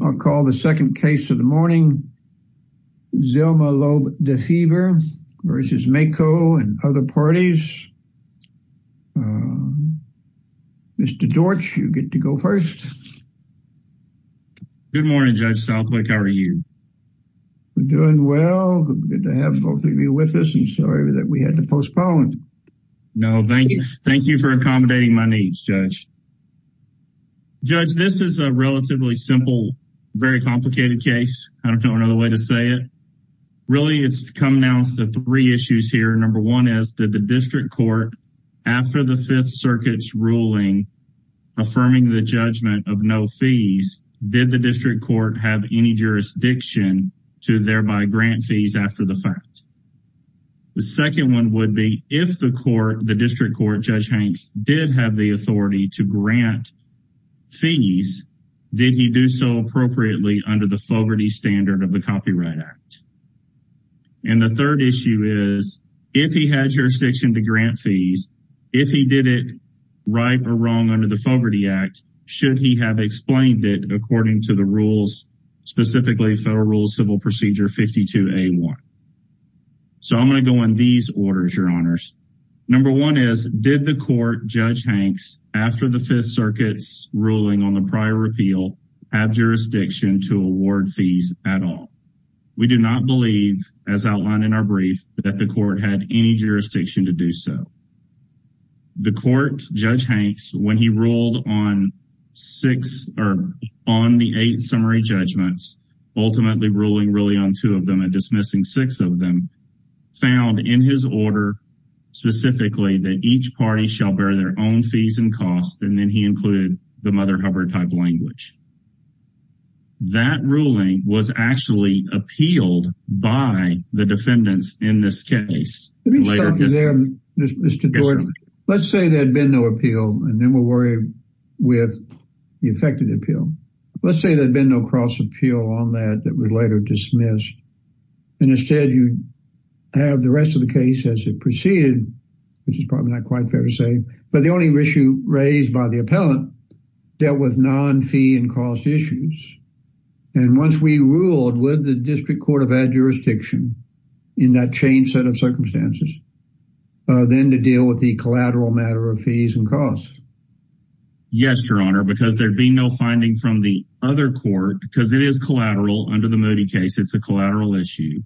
I'll call the second case of the morning. Zilma Loeb-Defever v. Mako and other parties. Mr. Dortch, you get to go first. Good morning, Judge Southwick. How are you? We're doing well. Good to have both of you with us. I'm sorry that we had to postpone. No, thank you. Thank you for accommodating my needs, Judge. Judge, this is a relatively simple, very complicated case. I don't know another way to say it. Really, it's come down to three issues here. Number one is that the district court, after the Fifth Circuit's ruling affirming the judgment of no fees, did the district court have any jurisdiction to thereby grant fees after the fact? The second one would be if the court, the district court, Judge Hanks, did have the authority to grant fees, did he do so appropriately under the Fogarty Standard of the Copyright Act? And the third issue is, if he had jurisdiction to grant fees, if he did it right or wrong under the Fogarty Act, should he have explained it according to the rules, specifically Federal Rules Civil Procedure 52A1? So I'm going to go in these orders, Your Honors. Number one is, did the court, Judge Hanks, after the Fifth Circuit's ruling on the prior repeal, have jurisdiction to award fees at all? We do not believe, as outlined in our brief, that the court had any jurisdiction to do so. The court, Judge Hanks, when he ruled on six or on the eight summary judgments, ultimately ruling really on two of them and dismissing six of them, found in his order, specifically, that each party shall bear their own fees and costs, and then he included the Mother Hubbard-type language. That ruling was actually appealed by the defendants in this case. Let me just talk to them, Mr. George. Let's say there had been no appeal, and then we'll worry with the effect of the appeal. Let's say there'd been no cross-appeal on that that was later dismissed, and instead you have the rest of the case as it proceeded, which is probably not quite fair to say, but the only issue raised by the appellant dealt with non-fee and cost issues. And once we ruled, would the District Court have had jurisdiction in that changed set of circumstances, then to deal with the collateral matter of fees and costs? Yes, Your Honor, because there'd be no finding from the other court, because it is collateral under the Moody case. It's a collateral issue,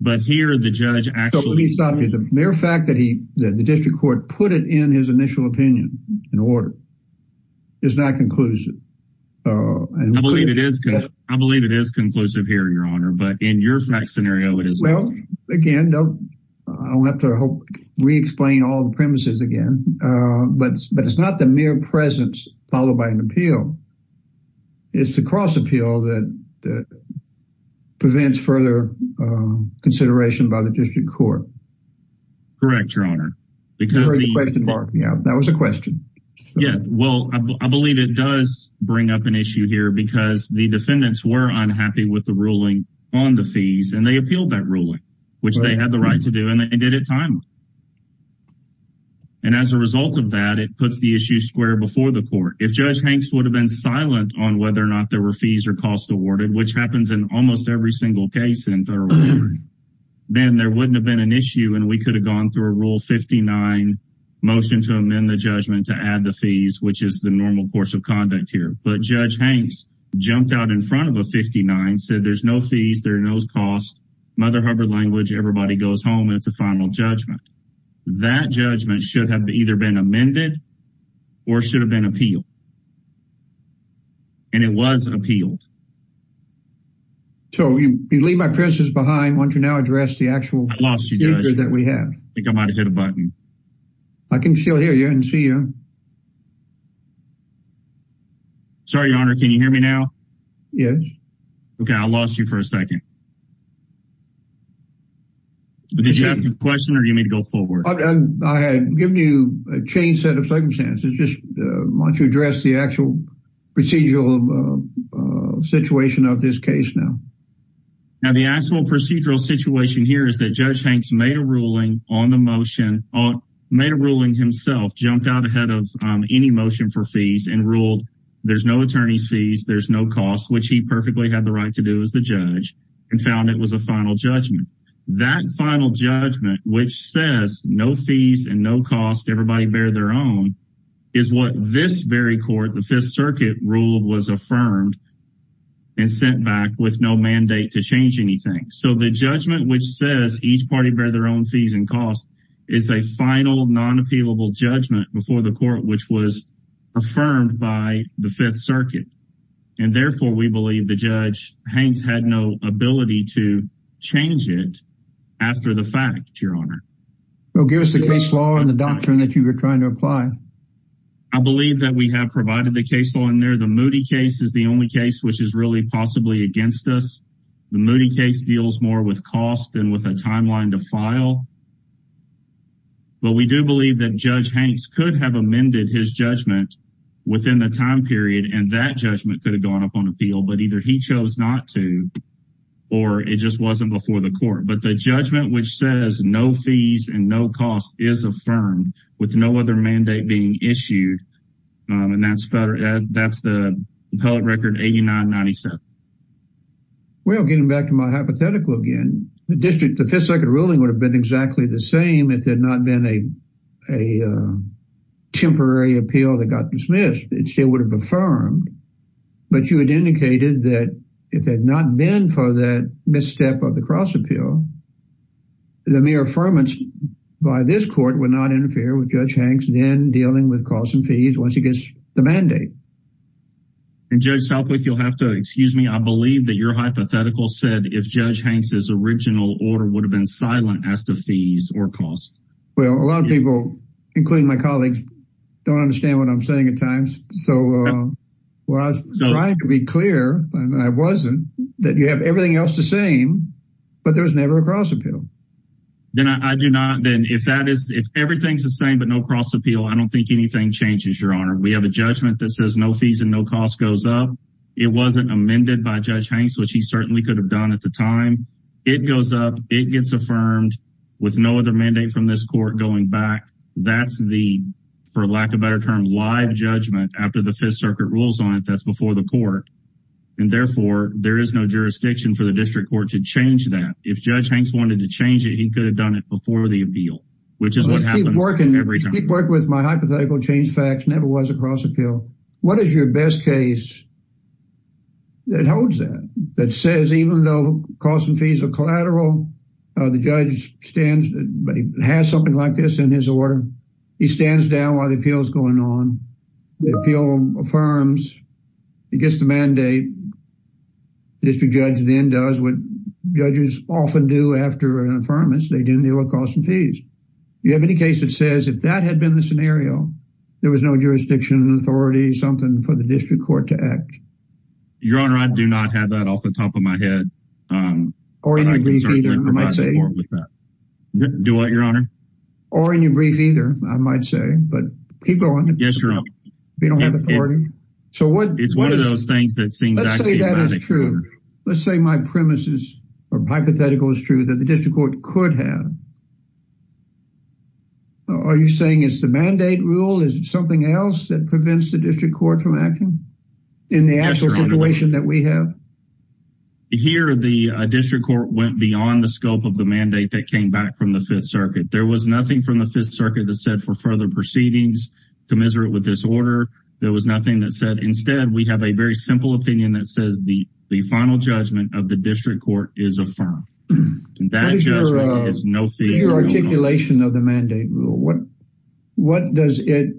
but here the judge actually... So let me stop you. The mere fact that the District Court put it in his initial opinion in order is not conclusive. I believe it is. I believe it is conclusive here, Your Honor, but in your fact scenario, it is not. Well, again, I'll have to hope we explain all the presence followed by an appeal. It's the cross-appeal that prevents further consideration by the District Court. Correct, Your Honor. That was a question. Yeah, well, I believe it does bring up an issue here because the defendants were unhappy with the ruling on the fees, and they appealed that ruling, which they had the issue square before the court. If Judge Hanks would have been silent on whether or not there were fees or costs awarded, which happens in almost every single case in federal court, then there wouldn't have been an issue, and we could have gone through a Rule 59 motion to amend the judgment to add the fees, which is the normal course of conduct here. But Judge Hanks jumped out in front of a 59, said there's no fees, there are no costs, Mother Hubbard language, everybody goes home, and it's a final judgment. That judgment should have either been amended or should have been appealed. And it was appealed. So you leave my presence behind, won't you now address the actual speaker that we have? I think I might have hit a button. I can still hear you and see you. Sorry, Your Honor, can you hear me now? Yes. Okay, I lost you for a second. Did you ask a question or do you want me to go forward? I had given you a changed set of circumstances. Just why don't you address the actual procedural situation of this case now? Now, the actual procedural situation here is that Judge Hanks made a ruling on the motion, made a ruling himself, jumped out ahead of any motion for fees and ruled there's no attorney's fees, there's no cost, which he perfectly had the right to do as the judge. And he found it was a final judgment. That final judgment, which says no fees and no cost, everybody bear their own, is what this very court, the Fifth Circuit, ruled was affirmed and sent back with no mandate to change anything. So the judgment which says each party bear their own fees and costs is a final non-appealable judgment before the court, which was affirmed by the Fifth Circuit. And therefore, we believe the Judge Hanks had no ability to change it after the fact, Your Honor. Well, give us the case law and the doctrine that you were trying to apply. I believe that we have provided the case law in there. The Moody case is the only case which is really possibly against us. The Moody case deals more with cost than with a judgment within the time period. And that judgment could have gone up on appeal, but either he chose not to, or it just wasn't before the court. But the judgment which says no fees and no cost is affirmed with no other mandate being issued. And that's the appellate record 8997. Well, getting back to my hypothetical again, the district, the Fifth Circuit ruling would have been exactly the same if there had not been a temporary appeal that got dismissed, it still would have affirmed. But you had indicated that if it had not been for that misstep of the cross-appeal, the mere affirmance by this court would not interfere with Judge Hanks then dealing with costs and fees once he gets the mandate. And Judge Southwick, you'll have to excuse me. I believe that your hypothetical said if Judge Hanks's original order would have been silent as to fees or cost. Well, a lot of people, including my colleagues, don't understand what I'm saying at times. So I was trying to be clear, and I wasn't, that you have everything else the same, but there was never a cross-appeal. Then I do not, then if that is, if everything's the same, but no cross-appeal, I don't think anything changes, Your Honor. We have a judgment that says no fees and no cost goes up. It wasn't amended by Judge Hanks, which he certainly could have done at the time. It goes up, it gets affirmed with no other mandate from this court going back. That's the, for lack of a better term, live judgment after the Fifth Circuit rules on it that's before the court. And therefore, there is no jurisdiction for the district court to change that. If Judge Hanks wanted to change it, he could have done it before the appeal, which is what happens every time. I keep working with my hypothetical change facts, never was a cross-appeal. What is your best case that holds that, that says even though cost and fees are collateral, the judge stands, but he has something like this in his order. He stands down while the appeal is going on. The appeal affirms, he gets the mandate. The district judge then does what judges often do after an affirmance. They do it with cost and fees. You have any case that says if that had been the scenario, there was no jurisdiction, authority, something for the district court to act? Your Honor, I do not have that off the top of my head. Or in your brief either, I might say. Do what, Your Honor? Or in your brief either, I might say, but keep going. Yes, Your Honor. If you don't have authority. It's one of those things that seems axiomatic. Let's say that is true. Let's say my premise is, or hypothetical is true, that the district court could have. Are you saying it's the mandate rule? Is it something else that prevents the district court from acting in the actual situation that we have? Yes, Your Honor. Here, the district court went beyond the scope of the mandate that came back from the Fifth Circuit. There was nothing from the Fifth Circuit that said for further proceedings commiserate with this order. There was nothing that said. Instead, we have a very simple opinion that says the final judgment of the district court is affirmed. That judgment is no fee. Your articulation of the mandate rule. What does it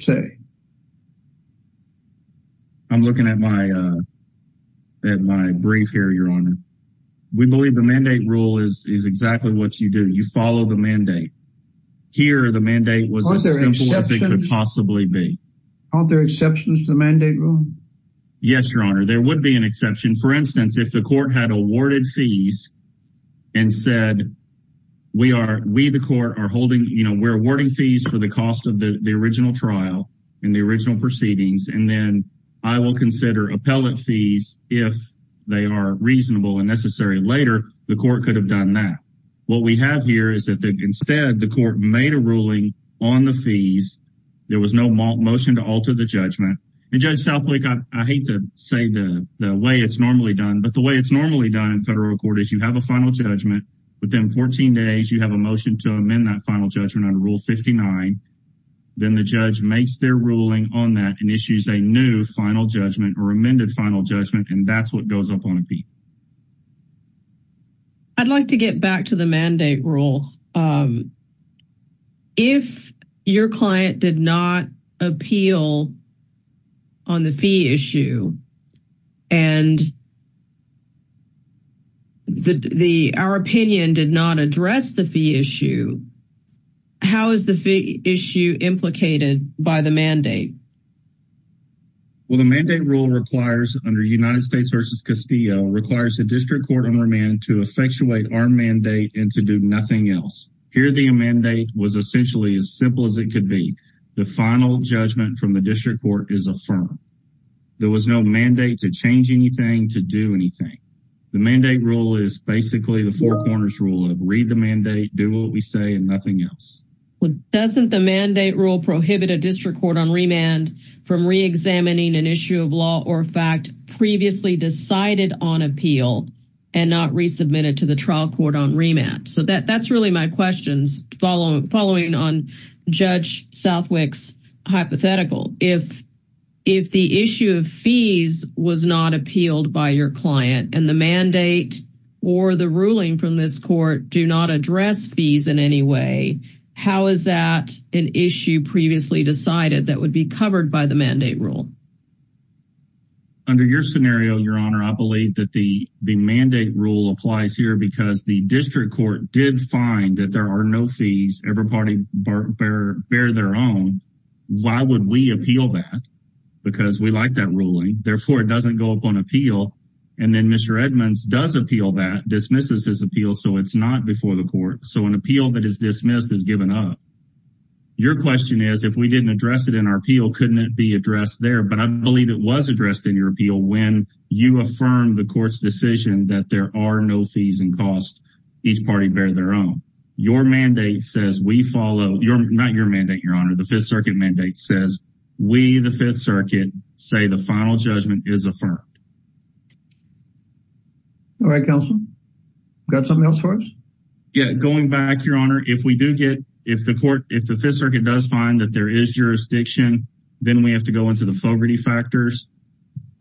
say? I'm looking at my brief here, Your Honor. We believe the mandate rule is exactly what you do. You follow the mandate. Here, the mandate was as simple as it could possibly be. Aren't there exceptions to the mandate rule? Yes, Your Honor. There would be an exception. For instance, if the court had awarded fees and said, we the court are awarding fees for the cost of the original trial and the original proceedings, and then I will consider appellate fees if they are reasonable and necessary. Later, the court could have done that. What we have here is that instead the court made a ruling on the fees. There was no motion to alter the judgment. And Judge Southwick, I hate to say the way it's normally done, but the way it's normally done in federal court is you have a final judgment. Within 14 days, you have a motion to amend that final judgment under Rule 59. Then the judge makes their ruling on that and issues a new final judgment or amended final judgment, and that's what goes up on appeal. I'd like to get back to the mandate rule. If your client did not appeal on the fee issue and our opinion did not address the fee issue, how is the fee issue implicated by the mandate? Well, the mandate rule requires, under United States v. Castillo, the district court on remand to effectuate our mandate and to do nothing else. Here the mandate was essentially as simple as it could be. The final judgment from the district court is affirmed. There was no mandate to change anything, to do anything. The mandate rule is basically the four corners rule of read the mandate, do what we say, and nothing else. Well, doesn't the mandate rule prohibit a district court on remand from reexamining an issue of law or fact previously decided on appeal and not resubmitted to the trial court on remand? So that's really my questions following on Judge Southwick's hypothetical. If the issue of fees was not appealed by your client and the mandate or the ruling from this court do not address fees in any way, how is that an issue previously decided that would be covered by the mandate rule? Under your scenario, your honor, I believe that the the mandate rule applies here because the district court did find that there are no fees. Every party bear their own. Why would we appeal that? Because we like that ruling. Therefore, it doesn't go up on appeal. And then Mr. Edmonds does appeal that, dismisses his appeal, so it's not before the court. So an appeal that is dismissed is given up. Your question is, if we didn't address it in our appeal, couldn't it be addressed there but I believe it was addressed in your appeal when you affirm the court's decision that there are no fees and costs. Each party bear their own. Your mandate says we follow, not your mandate, your honor, the Fifth Circuit mandate says we, the Fifth Circuit, say the final judgment is affirmed. All right, counsel. Got something else for us? Yeah, going back, your honor, if we do get, if the court, if the Fifth Circuit does find that there is jurisdiction, then we have to go into the Fogarty factors.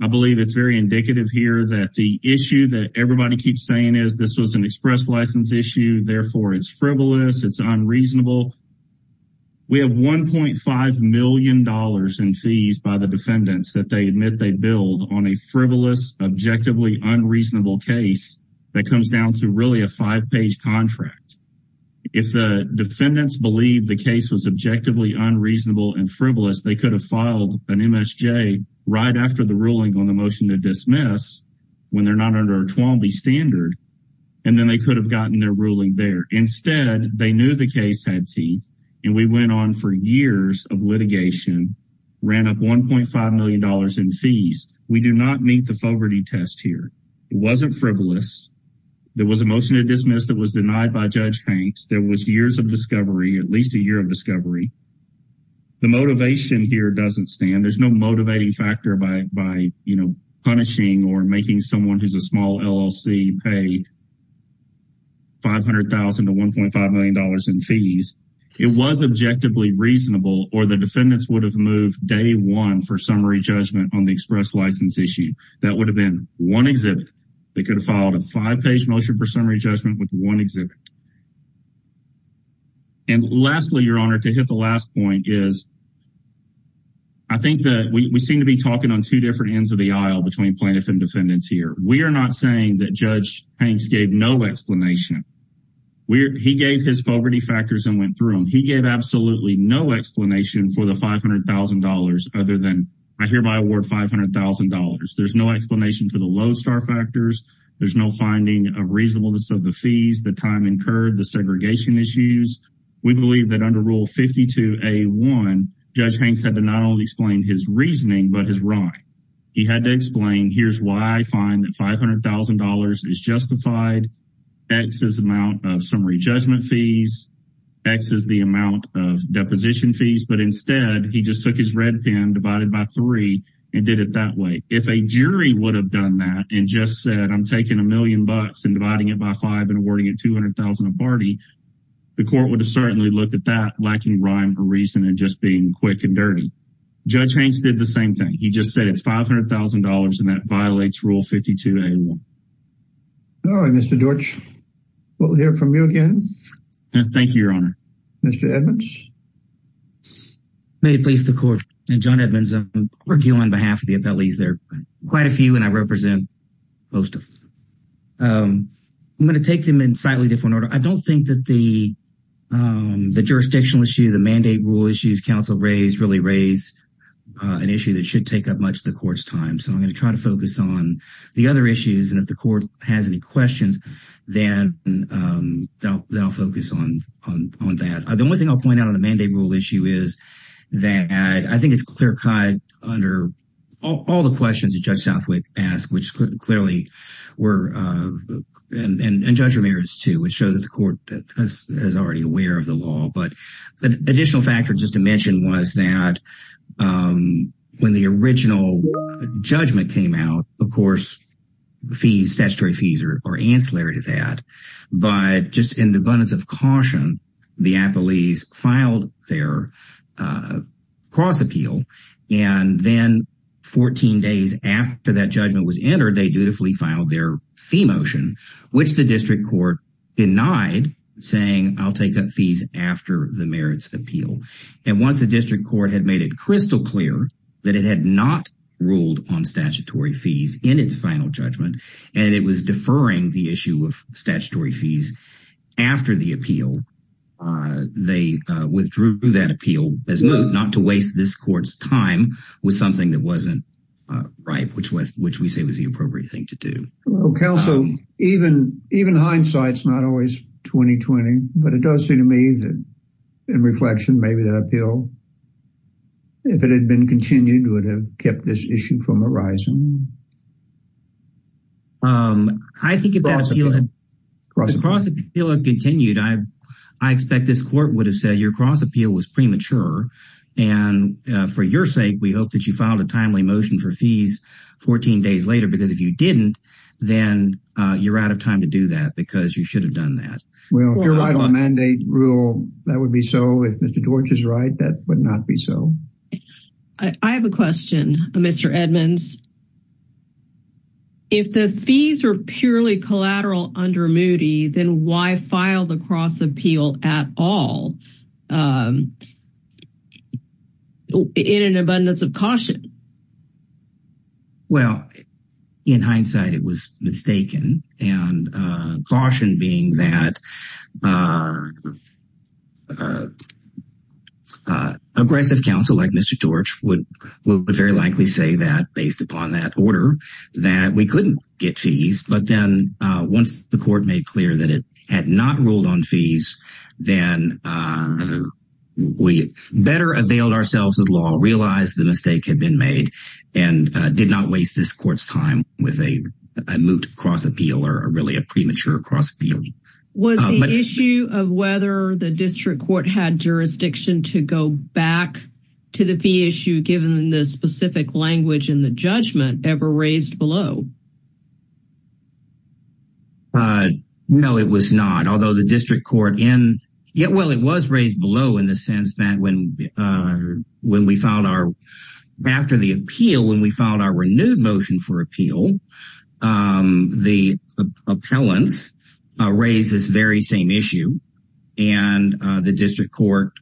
I believe it's very indicative here that the issue that everybody keeps saying is this was an express license issue, therefore it's frivolous, it's unreasonable. We have $1.5 million in fees by the defendants that they admit they billed on a frivolous, objectively unreasonable case that comes down to really a five-page contract. If the defendants believe the case was objectively unreasonable and frivolous, they could have filed an MSJ right after the ruling on the motion to dismiss when they're not under a 12B standard and then they could have gotten their ruling there. Instead, they knew the case had teeth and we went on for years of litigation, ran up $1.5 million in fees. We do not meet the Fogarty test here. It wasn't frivolous. There was a motion to dismiss that was denied by Judge Hanks. There was years of discovery, at least a year of discovery. The motivation here doesn't stand. There's no motivating factor by punishing or making someone who's a small LLC pay $500,000 to $1.5 million in fees. It was objectively reasonable or the defendants would have moved day one for summary judgment on the express license issue. That would have been one exhibit. They could have filed a five-page motion for summary judgment with one exhibit. And lastly, Your Honor, to hit the last point is I think that we seem to be talking on two different ends of the aisle between plaintiff and defendants here. We are not saying that Judge Hanks gave no explanation. He gave his Fogarty factors and went through them. He gave absolutely no explanation for the $500,000 other than, I hereby award $500,000. There's no explanation for the Lowe's star factors. There's no finding of reasonableness of the fees, the time incurred, the segregation issues. We believe that under Rule 52A1, Judge Hanks had to not only explain his reasoning, but his rhyme. He had to explain, here's why I find that $500,000 is justified, X is amount of summary judgment fees, X is the amount of deposition fees. But instead, he just took his red pen, divided by three, and did it that way. If a jury would have done that and just said, I'm taking a million bucks and dividing it by five and awarding it $200,000 a party, the court would have certainly looked at that lacking rhyme or reason and just being quick and dirty. Judge Hanks did the same thing. He just said it's $500,000 and that violates Rule 52A1. All right, Mr. Deutsch, we'll hear from you again. Thank you, Your Honor. Mr. Edmonds? May it please the Court, I'm John Edmonds. I'm working on behalf of the appellees. There are quite a few and I represent most of them. I'm going to take them in slightly different order. I don't think that the jurisdictional issue, the mandate rule issues counsel raised really raise an issue that should take up much of the Court's time. So I'm going to try to focus on the other issues. And if the Court has any questions, then I'll focus on that. The only thing I'll point out on the mandate rule issue is that I think it's clear cut under all the questions that Judge Southwick asked, which clearly were, and Judge Ramirez too, which shows the Court is already aware of the law. But the additional factor just to mention was that when the original judgment came out, of course, fees, statutory fees are ancillary to that. But just in the abundance of caution, the appellees filed their cross appeal. And then 14 days after that judgment was entered, they dutifully filed their fee motion, which the District Court denied saying, I'll take up fees after the merits appeal. And once the District Court had made it crystal clear that it had not ruled on statutory fees in its final judgment, and it was deferring the issue of statutory fees after the appeal, they withdrew that appeal as not to waste this Court's time with something that wasn't right, which we say was the appropriate thing to do. Counsel, even hindsight's not always 20-20, but it does seem to me that in reflection, maybe that appeal, if it had been continued, would have kept this issue from arising. I think if that appeal had continued, I expect this Court would have said your cross appeal was premature. And for your sake, we hope that you filed a timely motion for fees 14 days later, because if you didn't, then you're out of time to do that because you should have done that. Well, if you're right on mandate rule, that would be so. If Mr. George is right, that would not be so. I have a question, Mr. Edmonds. If the fees are purely collateral under Moody, then why file the cross appeal at all in an abundance of caution? Well, in hindsight, it was mistaken. And caution being that oppressive counsel like Mr. George would very likely say that based upon that order, that we couldn't get fees. But then once the Court made clear that it had not ruled on fees, then we better availed ourselves of law, realized the mistake had been made, and did not waste this Court's time with a moot cross appeal or really a premature cross appeal. Was the issue of whether the District Court had jurisdiction to go back to the fee issue, given the specific language in the judgment ever raised below? No, it was not. Although the District Court in, yeah, well, it was raised below in the sense that when we filed our, after the appeal, when we filed our renewed motion for appeal, the appellants raised this very same issue. And the District Court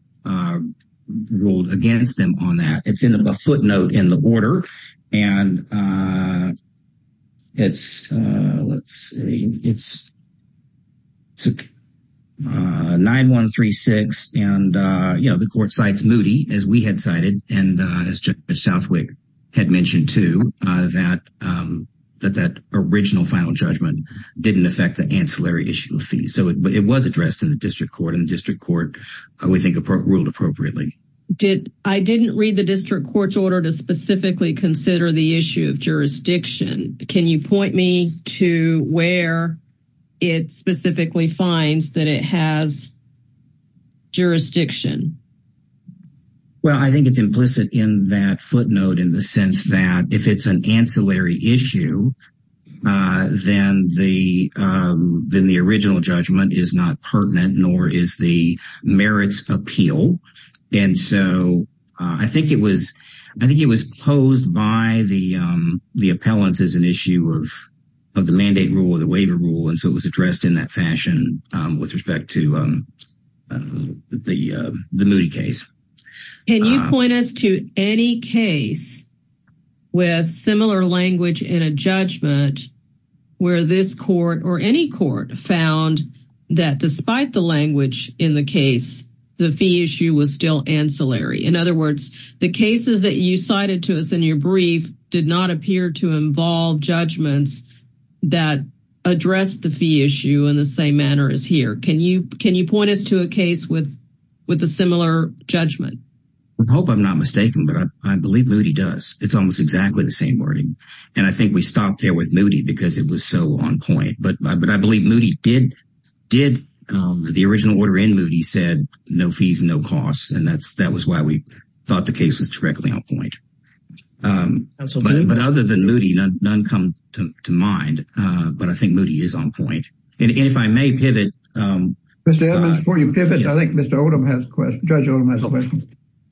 ruled against them on that. It's in a footnote in the order. And it's, let's see, it's 9136. And, you know, the Court cites Moody, as we had cited, and as Judge Southwick had mentioned too, that that original final judgment didn't affect the ancillary issue of fees. So it was addressed in the District Court, and the District Court, we think, ruled appropriately. Did, I didn't read the District Court's order to specifically consider the issue of jurisdiction. Can you point me to where it specifically finds that it has jurisdiction? Well, I think it's implicit in that footnote in the sense that if it's an ancillary issue, then the original judgment is not pertinent, nor is the merits appeal. And so I think it was, I think it was posed by the appellants as an issue of the mandate rule or the waiver rule. And so it was addressed in that fashion with respect to the Moody case. Can you point us to any case with similar language in a judgment, where this court or any court found that despite the language in the case, the fee issue was still ancillary? In other words, the cases that you cited to us in your brief did not appear to involve judgments that address the fee issue in the same manner as here. Can you, can you point us to a case with a similar judgment? I hope I'm not mistaken, but I believe Moody does. It's almost exactly the same wording. And I think we stopped there with Moody because it was so on point. But I believe Moody did, the original order in Moody said no fees, no costs. And that's, that was why we thought the case was directly on point. But other than Moody, none come to mind. But I think Mr. Edmonds, before you pivot, I think Mr. Odom has a question. Judge Odom has a question.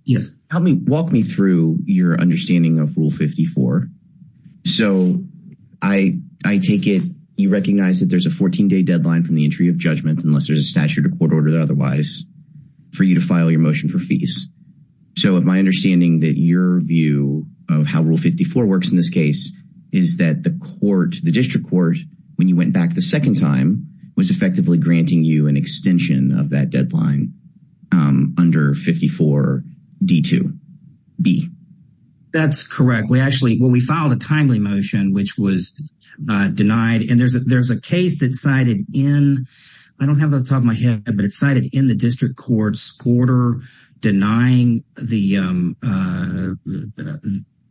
Yes. Help me, walk me through your understanding of Rule 54. So I, I take it, you recognize that there's a 14 day deadline from the entry of judgment, unless there's a statute or court order that otherwise for you to file your motion for fees. So my understanding that your view of how Rule 54 works in this case is that the court, the district court, when you went back the second time was effectively granting you an extension of that deadline under 54 D2B. That's correct. We actually, well, we filed a timely motion, which was denied. And there's a, there's a case that's cited in, I don't have it on top of my head, but it's cited in the district court's quarter denying the,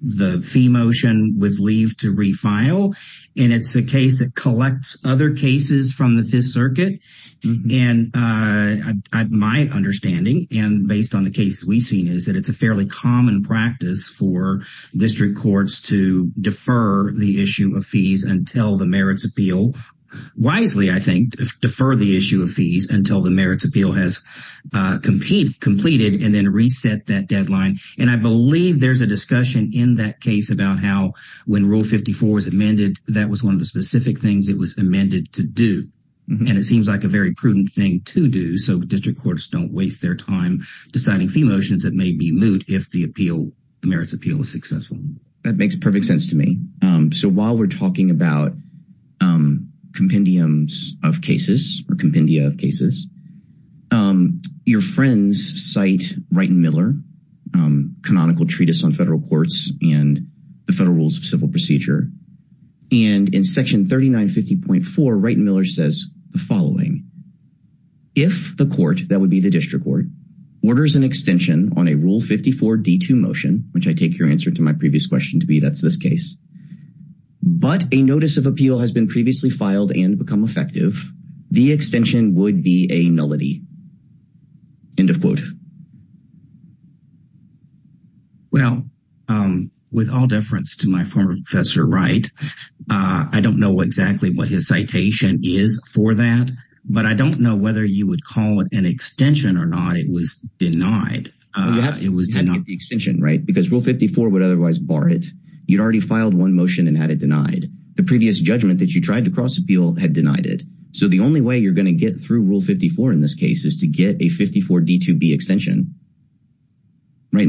the fee motion with leave to refile. And it's a case that collects other cases from the fifth circuit. And my understanding, and based on the cases we've seen, is that it's a fairly common practice for district courts to defer the issue of fees until the merits appeal, wisely, I think, defer the issue of fees until the merits appeal has completed and then reset that deadline. And I believe there's a discussion in that case about when Rule 54 was amended, that was one of the specific things it was amended to do. And it seems like a very prudent thing to do. So district courts don't waste their time deciding fee motions that may be moot if the appeal merits appeal is successful. That makes perfect sense to me. So while we're talking about compendiums of cases or compendia federal rules of civil procedure, and in section 3950.4, Wright and Miller says the following, if the court that would be the district court orders an extension on a Rule 54 D2 motion, which I take your answer to my previous question to be, that's this case, but a notice of appeal has been previously filed and become effective, the extension would be a nullity, end of quote. Well, with all deference to my former professor, Wright, I don't know exactly what his citation is for that. But I don't know whether you would call it an extension or not. It was denied. It was denied the extension, right? Because Rule 54 would otherwise bar it. You'd already filed one motion and had it denied. The previous judgment that you tried to cross appeal had denied it. So the only way you're going to get through Rule 54 in this case is to get a Rule 54 D2B extension, right? I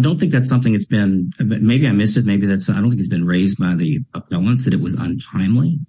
don't think that's something that's been, maybe I missed it. Maybe that's, I don't think it's been raised by the appellants that it was untimely,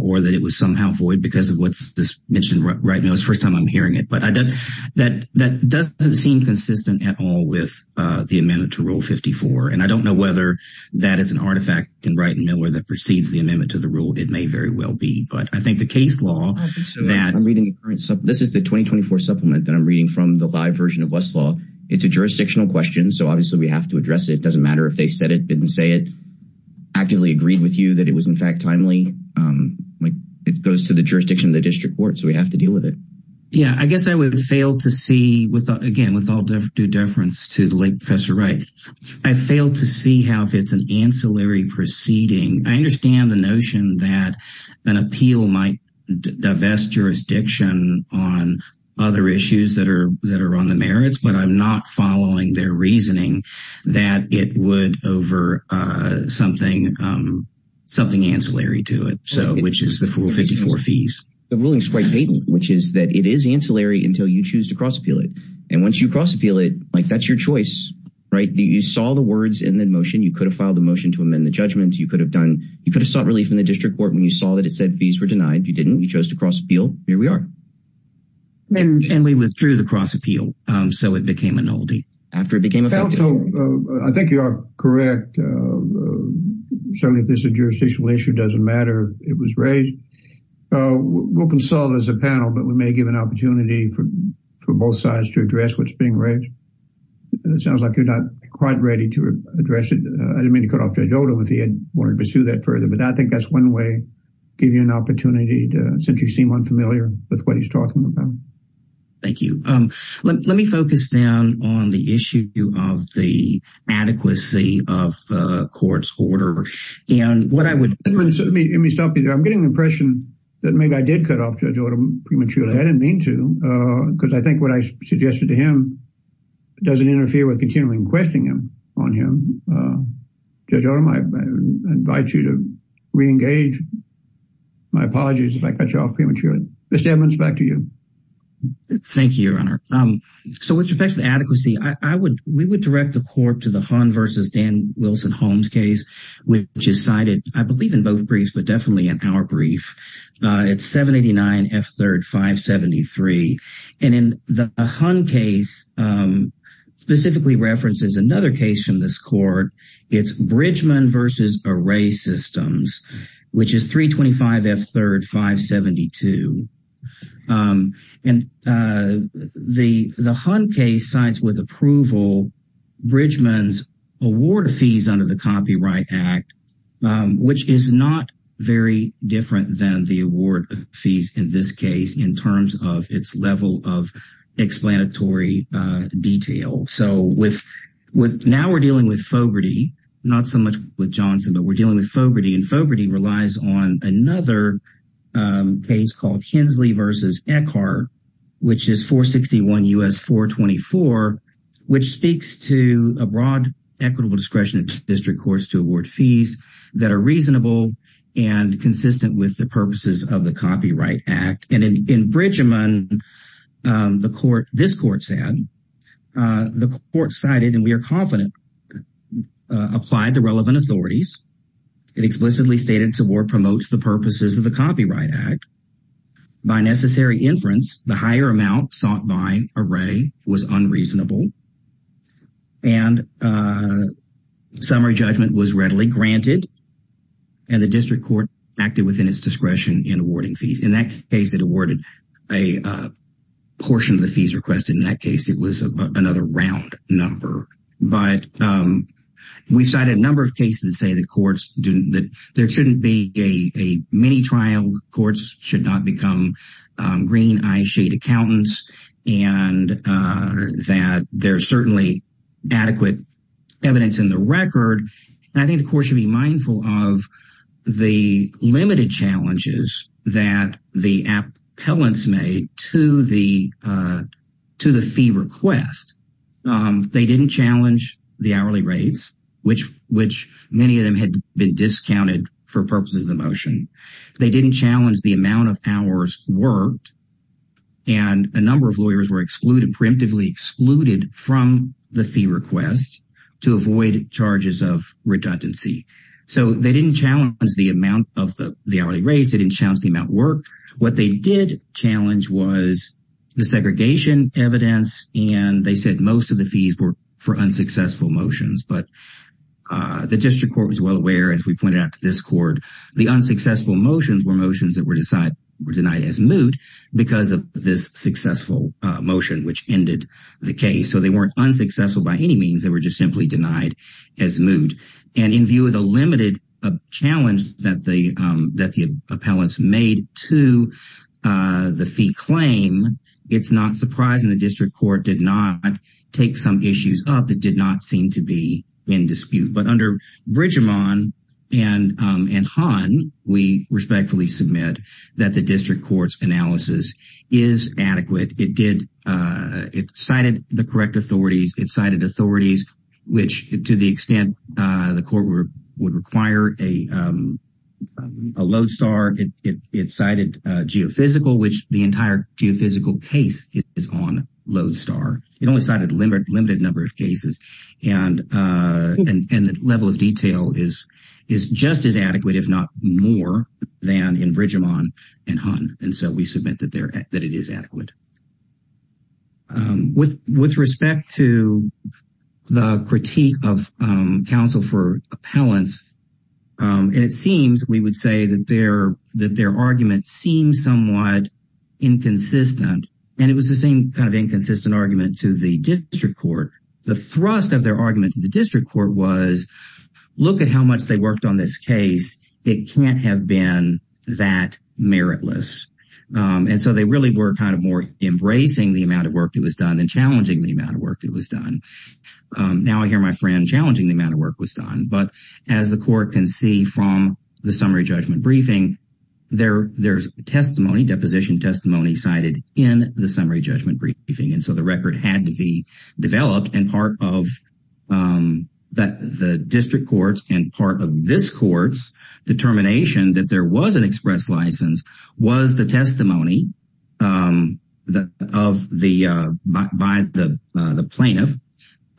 or that it was somehow void because of what's mentioned right now. It's the first time I'm hearing it. But that doesn't seem consistent at all with the amendment to Rule 54. And I don't know whether that is an artifact in Wright and Miller that precedes the amendment to the rule. It may very well be. But I think the case law... I'm reading the current, this is the 2024 supplement that I'm reading from the live version of Westlaw. It's a jurisdictional question. So obviously we have to address it. It doesn't matter if they said it, didn't say it, actively agreed with you that it was in fact timely. It goes to the jurisdiction of the district court. So we have to deal with it. Yeah, I guess I would fail to see, again, with all due deference to the late professor Wright, I fail to see how if it's an ancillary proceeding. I understand the notion that an appeal might divest jurisdiction on other issues that are on the merits, but I'm not following their reasoning that it would over something ancillary to it, which is the Rule 54 fees. The ruling is quite patent, which is that it is ancillary until you choose to cross appeal it. And once you cross appeal it, like that's your choice, right? You saw the words in the motion. You could have filed a motion to amend the judgment. You could have sought relief in the district court when you saw that it said fees were denied. You didn't. You chose to cross appeal. Here we are. And we withdrew the cross appeal. So it became an oldie. I think you are correct. Certainly if this is a jurisdictional issue, it doesn't matter. It was raised. We'll consult as a panel, but we may give an opportunity for both sides to address what's being raised. It sounds like you're not quite ready to address it. I didn't mean to cut off Judge Odom if he had wanted to pursue that further, but I think that's one way, give you an opportunity to, since you seem unfamiliar with what he's talking about. Thank you. Let me focus down on the issue of the adequacy of the court's order and what I would. Let me stop you there. I'm getting the impression that maybe I did cut off Judge Odom prematurely. I didn't mean to, because I think what I suggested to him doesn't interfere with continuing questioning him on him. Judge Odom, I invite you to re-engage. My apologies if I cut you off prematurely. Mr. Edmonds, back to you. Thank you, Your Honor. So with respect to the adequacy, we would direct the court to the definitely in our brief. It's 789 F. 3rd 573. And in the Hunt case, specifically references another case from this court. It's Bridgman v. Array Systems, which is 325 F. 3rd 572. And the Hunt case cites with approval Bridgman's award of fees under the Copyright Act, which is not very different than the award of fees in this case in terms of its level of explanatory detail. So now we're dealing with Fogarty, not so much with Johnson, but we're dealing with Fogarty. And Fogarty relies on another case called Hensley v. Eckhart, which is 461 U.S. 424, which speaks to a broad equitable discretion of district courts to award fees that are reasonable and consistent with the purposes of the Copyright Act. And in Bridgman, this court said, the court cited, and we are confident, applied the relevant authorities. It explicitly stated its award promotes the purposes of the Copyright Act. By necessary inference, the higher amount sought by Array was unreasonable. And summary judgment was readily granted. And the district court acted within its discretion in awarding fees. In that case, it awarded a portion of the fees requested. In that case, it was another round number. But we cited a number of cases that say the courts didn't, that there shouldn't be a mini trial. Courts should not become green eye shade accountants. And that there's certainly adequate evidence in the record. And I think the court should be mindful of the limited challenges that the appellants made to the fee request. They didn't challenge the hourly rates, which many of them had been discounted for purposes of the motion. They didn't challenge the amount of hours worked. And a number of lawyers were excluded, preemptively excluded from the fee request to avoid charges of redundancy. So they didn't challenge the amount of the hourly rates. They didn't challenge the amount worked. What they did challenge was the segregation evidence. And they said most of the fees were for unsuccessful motions. But the district court was well aware, as we pointed out to this court, the unsuccessful motions were motions that were denied as moot because of this successful motion, which ended the case. So they weren't unsuccessful by any means. They were just simply denied as moot. And in view of the limited challenge that the appellants made to the fee claim, it's not surprising the district court did not take some issues up that did not seem to be in dispute. But under Bridgeman and Hahn, we respectfully submit that the district court's analysis is adequate. It cited the correct authorities. It cited authorities, which to the extent the court would require a lodestar, it cited geophysical, which the entire geophysical case is on lodestar. It only cited a limited number of cases. And the level of detail is just as adequate, if not more, than in Bridgeman and Hahn. And so we submit that it is adequate. With respect to the critique of counsel for appellants, and it seems we would say that their argument seems somewhat inconsistent. And it was the same kind of inconsistent argument to the district court. The thrust of their argument to the district court was, look at how much they worked on this case. It can't have been that meritless. And so they really were kind of more embracing the amount of work that was done and challenging the amount of work that was done. Now I hear my friend challenging the amount of work that was done. But as the court can see from the summary judgment briefing, there's testimony, deposition testimony cited in the summary judgment briefing. And so the record had to be developed. And part of the district court's and part of this court's determination that there was an express license was the testimony by the plaintiff,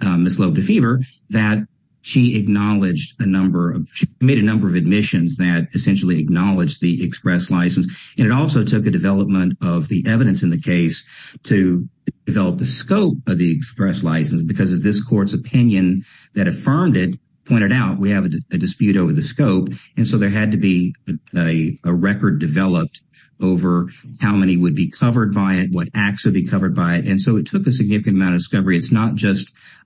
Ms. Loeb DeFever, that she acknowledged a number of, she made a number of admissions that essentially acknowledged the express license. And it also took a development of the evidence in the case to develop the scope of the express license. Because as this court's opinion that affirmed it pointed out, we have a dispute over the scope. And so there had to be a record developed over how many would be covered by it, what acts would be covered by it. And so it took a significant amount of discovery. It's not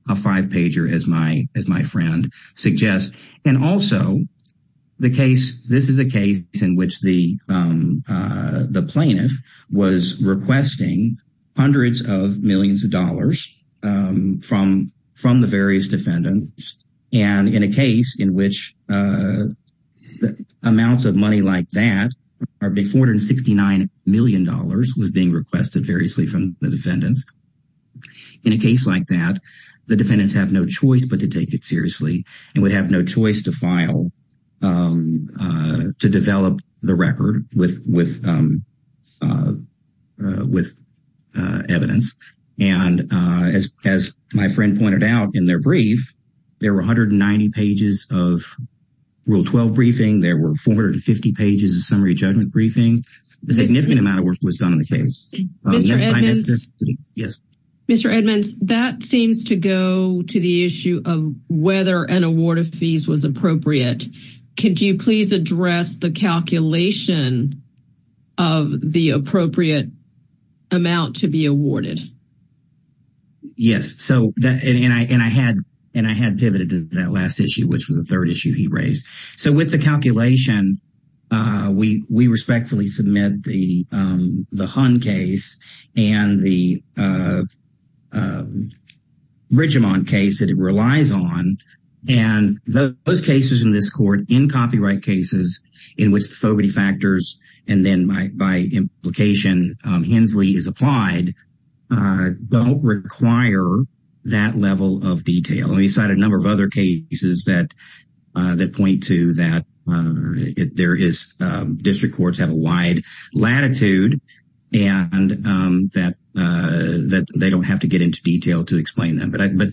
a five-pager as my friend suggests. And also the case, this is a case in which the plaintiff was requesting hundreds of millions of dollars from the various defendants. And in a case in which amounts of money like that, $469 million was being requested variously from the defendants. In a case like that, the defendants have no choice but to take it seriously and would have no choice to file, to develop the record with evidence. And as my friend pointed out in their brief, there were 190 pages of Rule 12 briefing. There were 450 pages of summary judgment briefing. A significant amount of work was done on the case. Yes. Mr. Edmonds, that seems to go to the issue of whether an award of fees was appropriate. Could you please address the calculation of the appropriate amount to be awarded? Yes. And I had pivoted to that last issue, which was the third issue he raised. So with the calculation, we respectfully submit the Hunt case and the Ridgemont case that it relies on. And those cases in this court, in copyright cases, in which the Fogarty factors and then by implication Hensley is applied, don't require that level of detail. And he cited a number of other cases that point to that there is district courts have a wide latitude and that they don't have to get into detail to explain them. But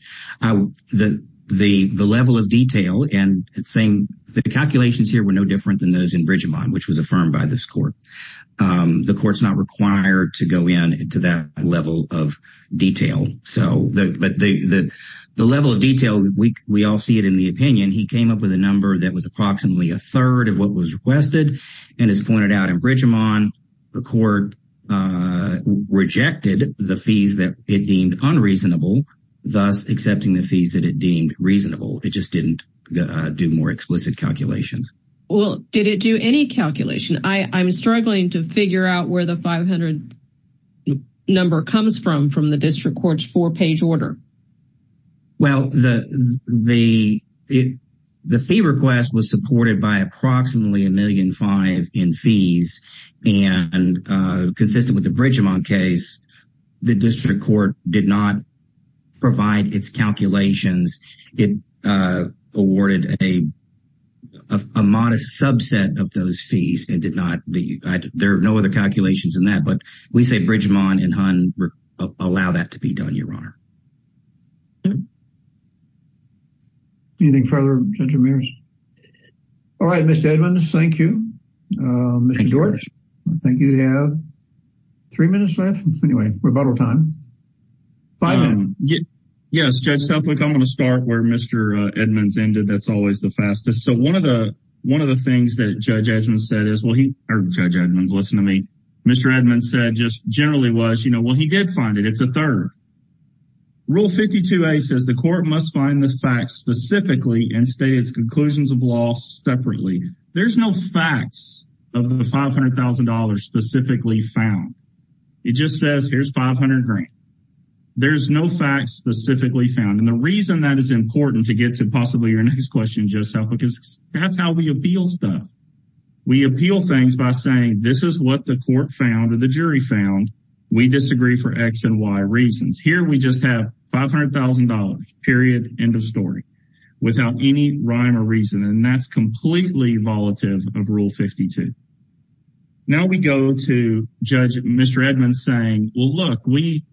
the level of detail and it's saying the calculations here were no different than those in Ridgemont, which was affirmed by this court. The court's not required to go in to that level of detail. So the level of detail, we all see it in the opinion. He came up with a number that was approximately a third of what was requested. And as pointed out in Ridgemont, the court rejected the fees that it deemed unreasonable, thus accepting the fees that it deemed reasonable. It just didn't do more explicit calculations. Well, did it do any calculation? I'm struggling to figure out where the 500 number comes from, from the district court's four page order. Well, the fee request was supported by approximately a million five in fees and consistent with the Ridgemont case, the district court did not provide its calculations. It awarded a modest subset of those fees and did not, there are no other calculations in that, but we say Ridgemont and Hunt allow that to be done, Your Honor. Anything further, Judge Ramirez? All right, Mr. Edmonds, thank you. Mr. George, I think you have three minutes left. Anyway, rebuttal time. Yes, Judge Suffolk, I'm going to start where Mr. Edmonds ended. That's always the fastest. So one of the things that Judge Edmonds said is, well, he heard Judge Edmonds listen to me. Mr. Edmonds said just generally was, you know, well, he did find it. It's a third. Rule 52a says the court must find the facts specifically and state its conclusions of law separately. There's no facts of the $500,000 specifically found. It just says here's 500 grand. There's no facts specifically found. And the reason that is important to get to possibly your next question, Judge Suffolk, is that's how we appeal stuff. We appeal things by saying this is what the court found or the jury found. We disagree for X and Y reasons. Here we just have $500,000, period, end of story, without any rhyme or reason. And that's completely volative of Rule 52. Now we go to Judge Mr. Edmonds saying, well, look, we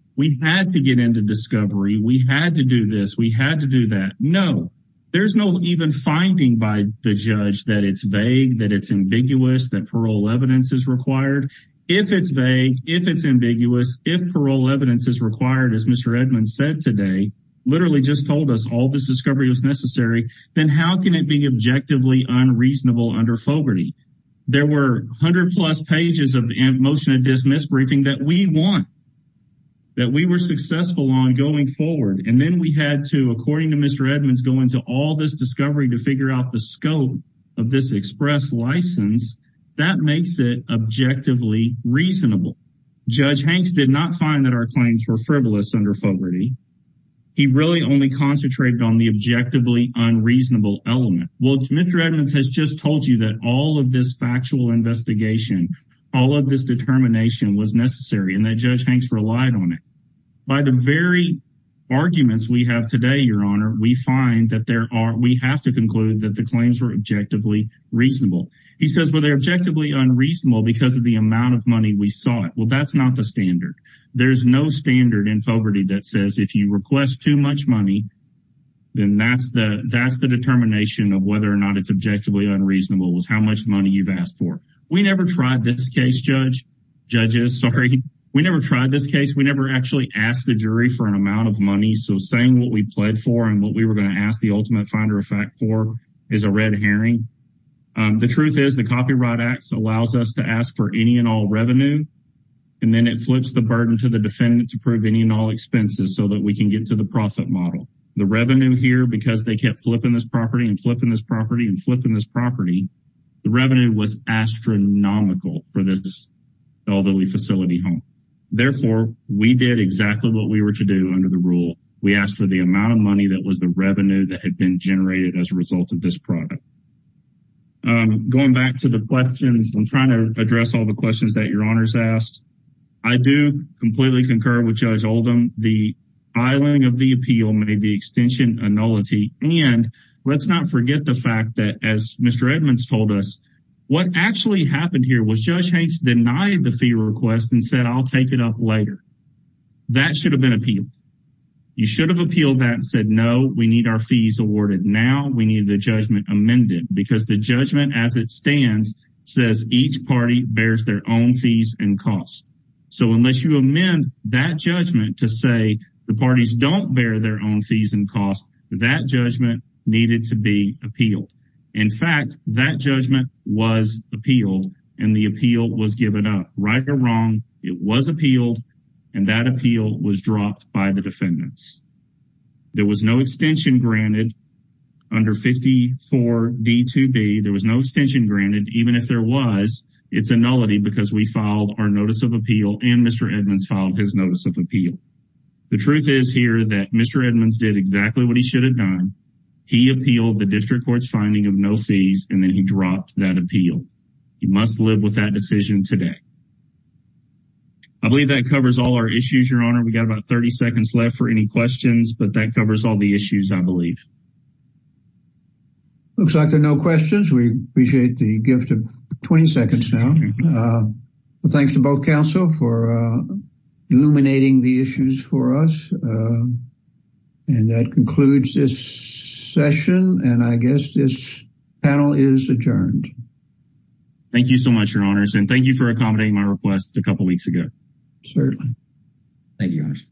had to get into discovery. We had to do this. We had to do that. No, there's no even finding by the judge that it's vague, that it's ambiguous, that parole evidence is required. If it's vague, if it's ambiguous, if parole evidence is required, as Mr. Edmonds said today, literally just told us all this discovery was necessary, then how can it be objectively unreasonable under Fogarty? There were 100-plus pages of motion to dismiss briefing that we want, that we were successful on going forward. And then we had to, according to Mr. Edmonds, go into all this discovery to figure out the scope of this express license. That makes it objectively reasonable. Judge Hanks did not find that our claims were under Fogarty. He really only concentrated on the objectively unreasonable element. Well, Mr. Edmonds has just told you that all of this factual investigation, all of this determination was necessary and that Judge Hanks relied on it. By the very arguments we have today, Your Honor, we find that there are, we have to conclude that the claims were objectively reasonable. He says, well, they're objectively unreasonable because of the amount of money we sought. Well, that's not the standard. There's no standard in Fogarty that says if you request too much money, then that's the determination of whether or not it's objectively unreasonable was how much money you've asked for. We never tried this case, Judge, judges, sorry. We never tried this case. We never actually asked the jury for an amount of money. So saying what we pled for and what we were going to ask the ultimate finder of fact for is a red herring. The truth is the Copyright Act allows us to ask for any and all revenue, and then it flips the burden to the defendant to prove any and all expenses so that we can get to the profit model. The revenue here, because they kept flipping this property and flipping this property and flipping this property, the revenue was astronomical for this elderly facility home. Therefore, we did exactly what we were to do under the rule. We asked for the amount of money that the revenue that had been generated as a result of this product. Going back to the questions, I'm trying to address all the questions that your honors asked. I do completely concur with Judge Oldham. The filing of the appeal made the extension a nullity. And let's not forget the fact that as Mr. Edmonds told us, what actually happened here was Judge Hanks denied the fee request and said, I'll take it up later. That should have been appealed. You should have appealed that and said, no, we need our fees awarded. Now we need the judgment amended because the judgment as it stands says each party bears their own fees and costs. So unless you amend that judgment to say the parties don't bear their own fees and costs, that judgment needed to be appealed. In fact, that judgment was appealed and the appeal was given up. Right or wrong, it was appealed and that appeal was dropped by the defendants. There was no extension granted under 54 D2B. There was no extension granted even if there was. It's a nullity because we filed our notice of appeal and Mr. Edmonds filed his notice of appeal. The truth is here that Mr. Edmonds did exactly what he should have done. He appealed the district court's finding of no fees and then he dropped that appeal. He must live with that decision today. I believe that covers all our issues, Your Honor. We've got about 30 seconds left for any questions, but that covers all the issues, I believe. Looks like there are no questions. We appreciate the gift of 20 seconds now. Thanks to both counsel for illuminating the issues for us. And that concludes this session and I guess this panel is adjourned. Thank you so much, Your Honors, and thank you for accommodating my request a couple weeks ago. Certainly. Thank you, Your Honors.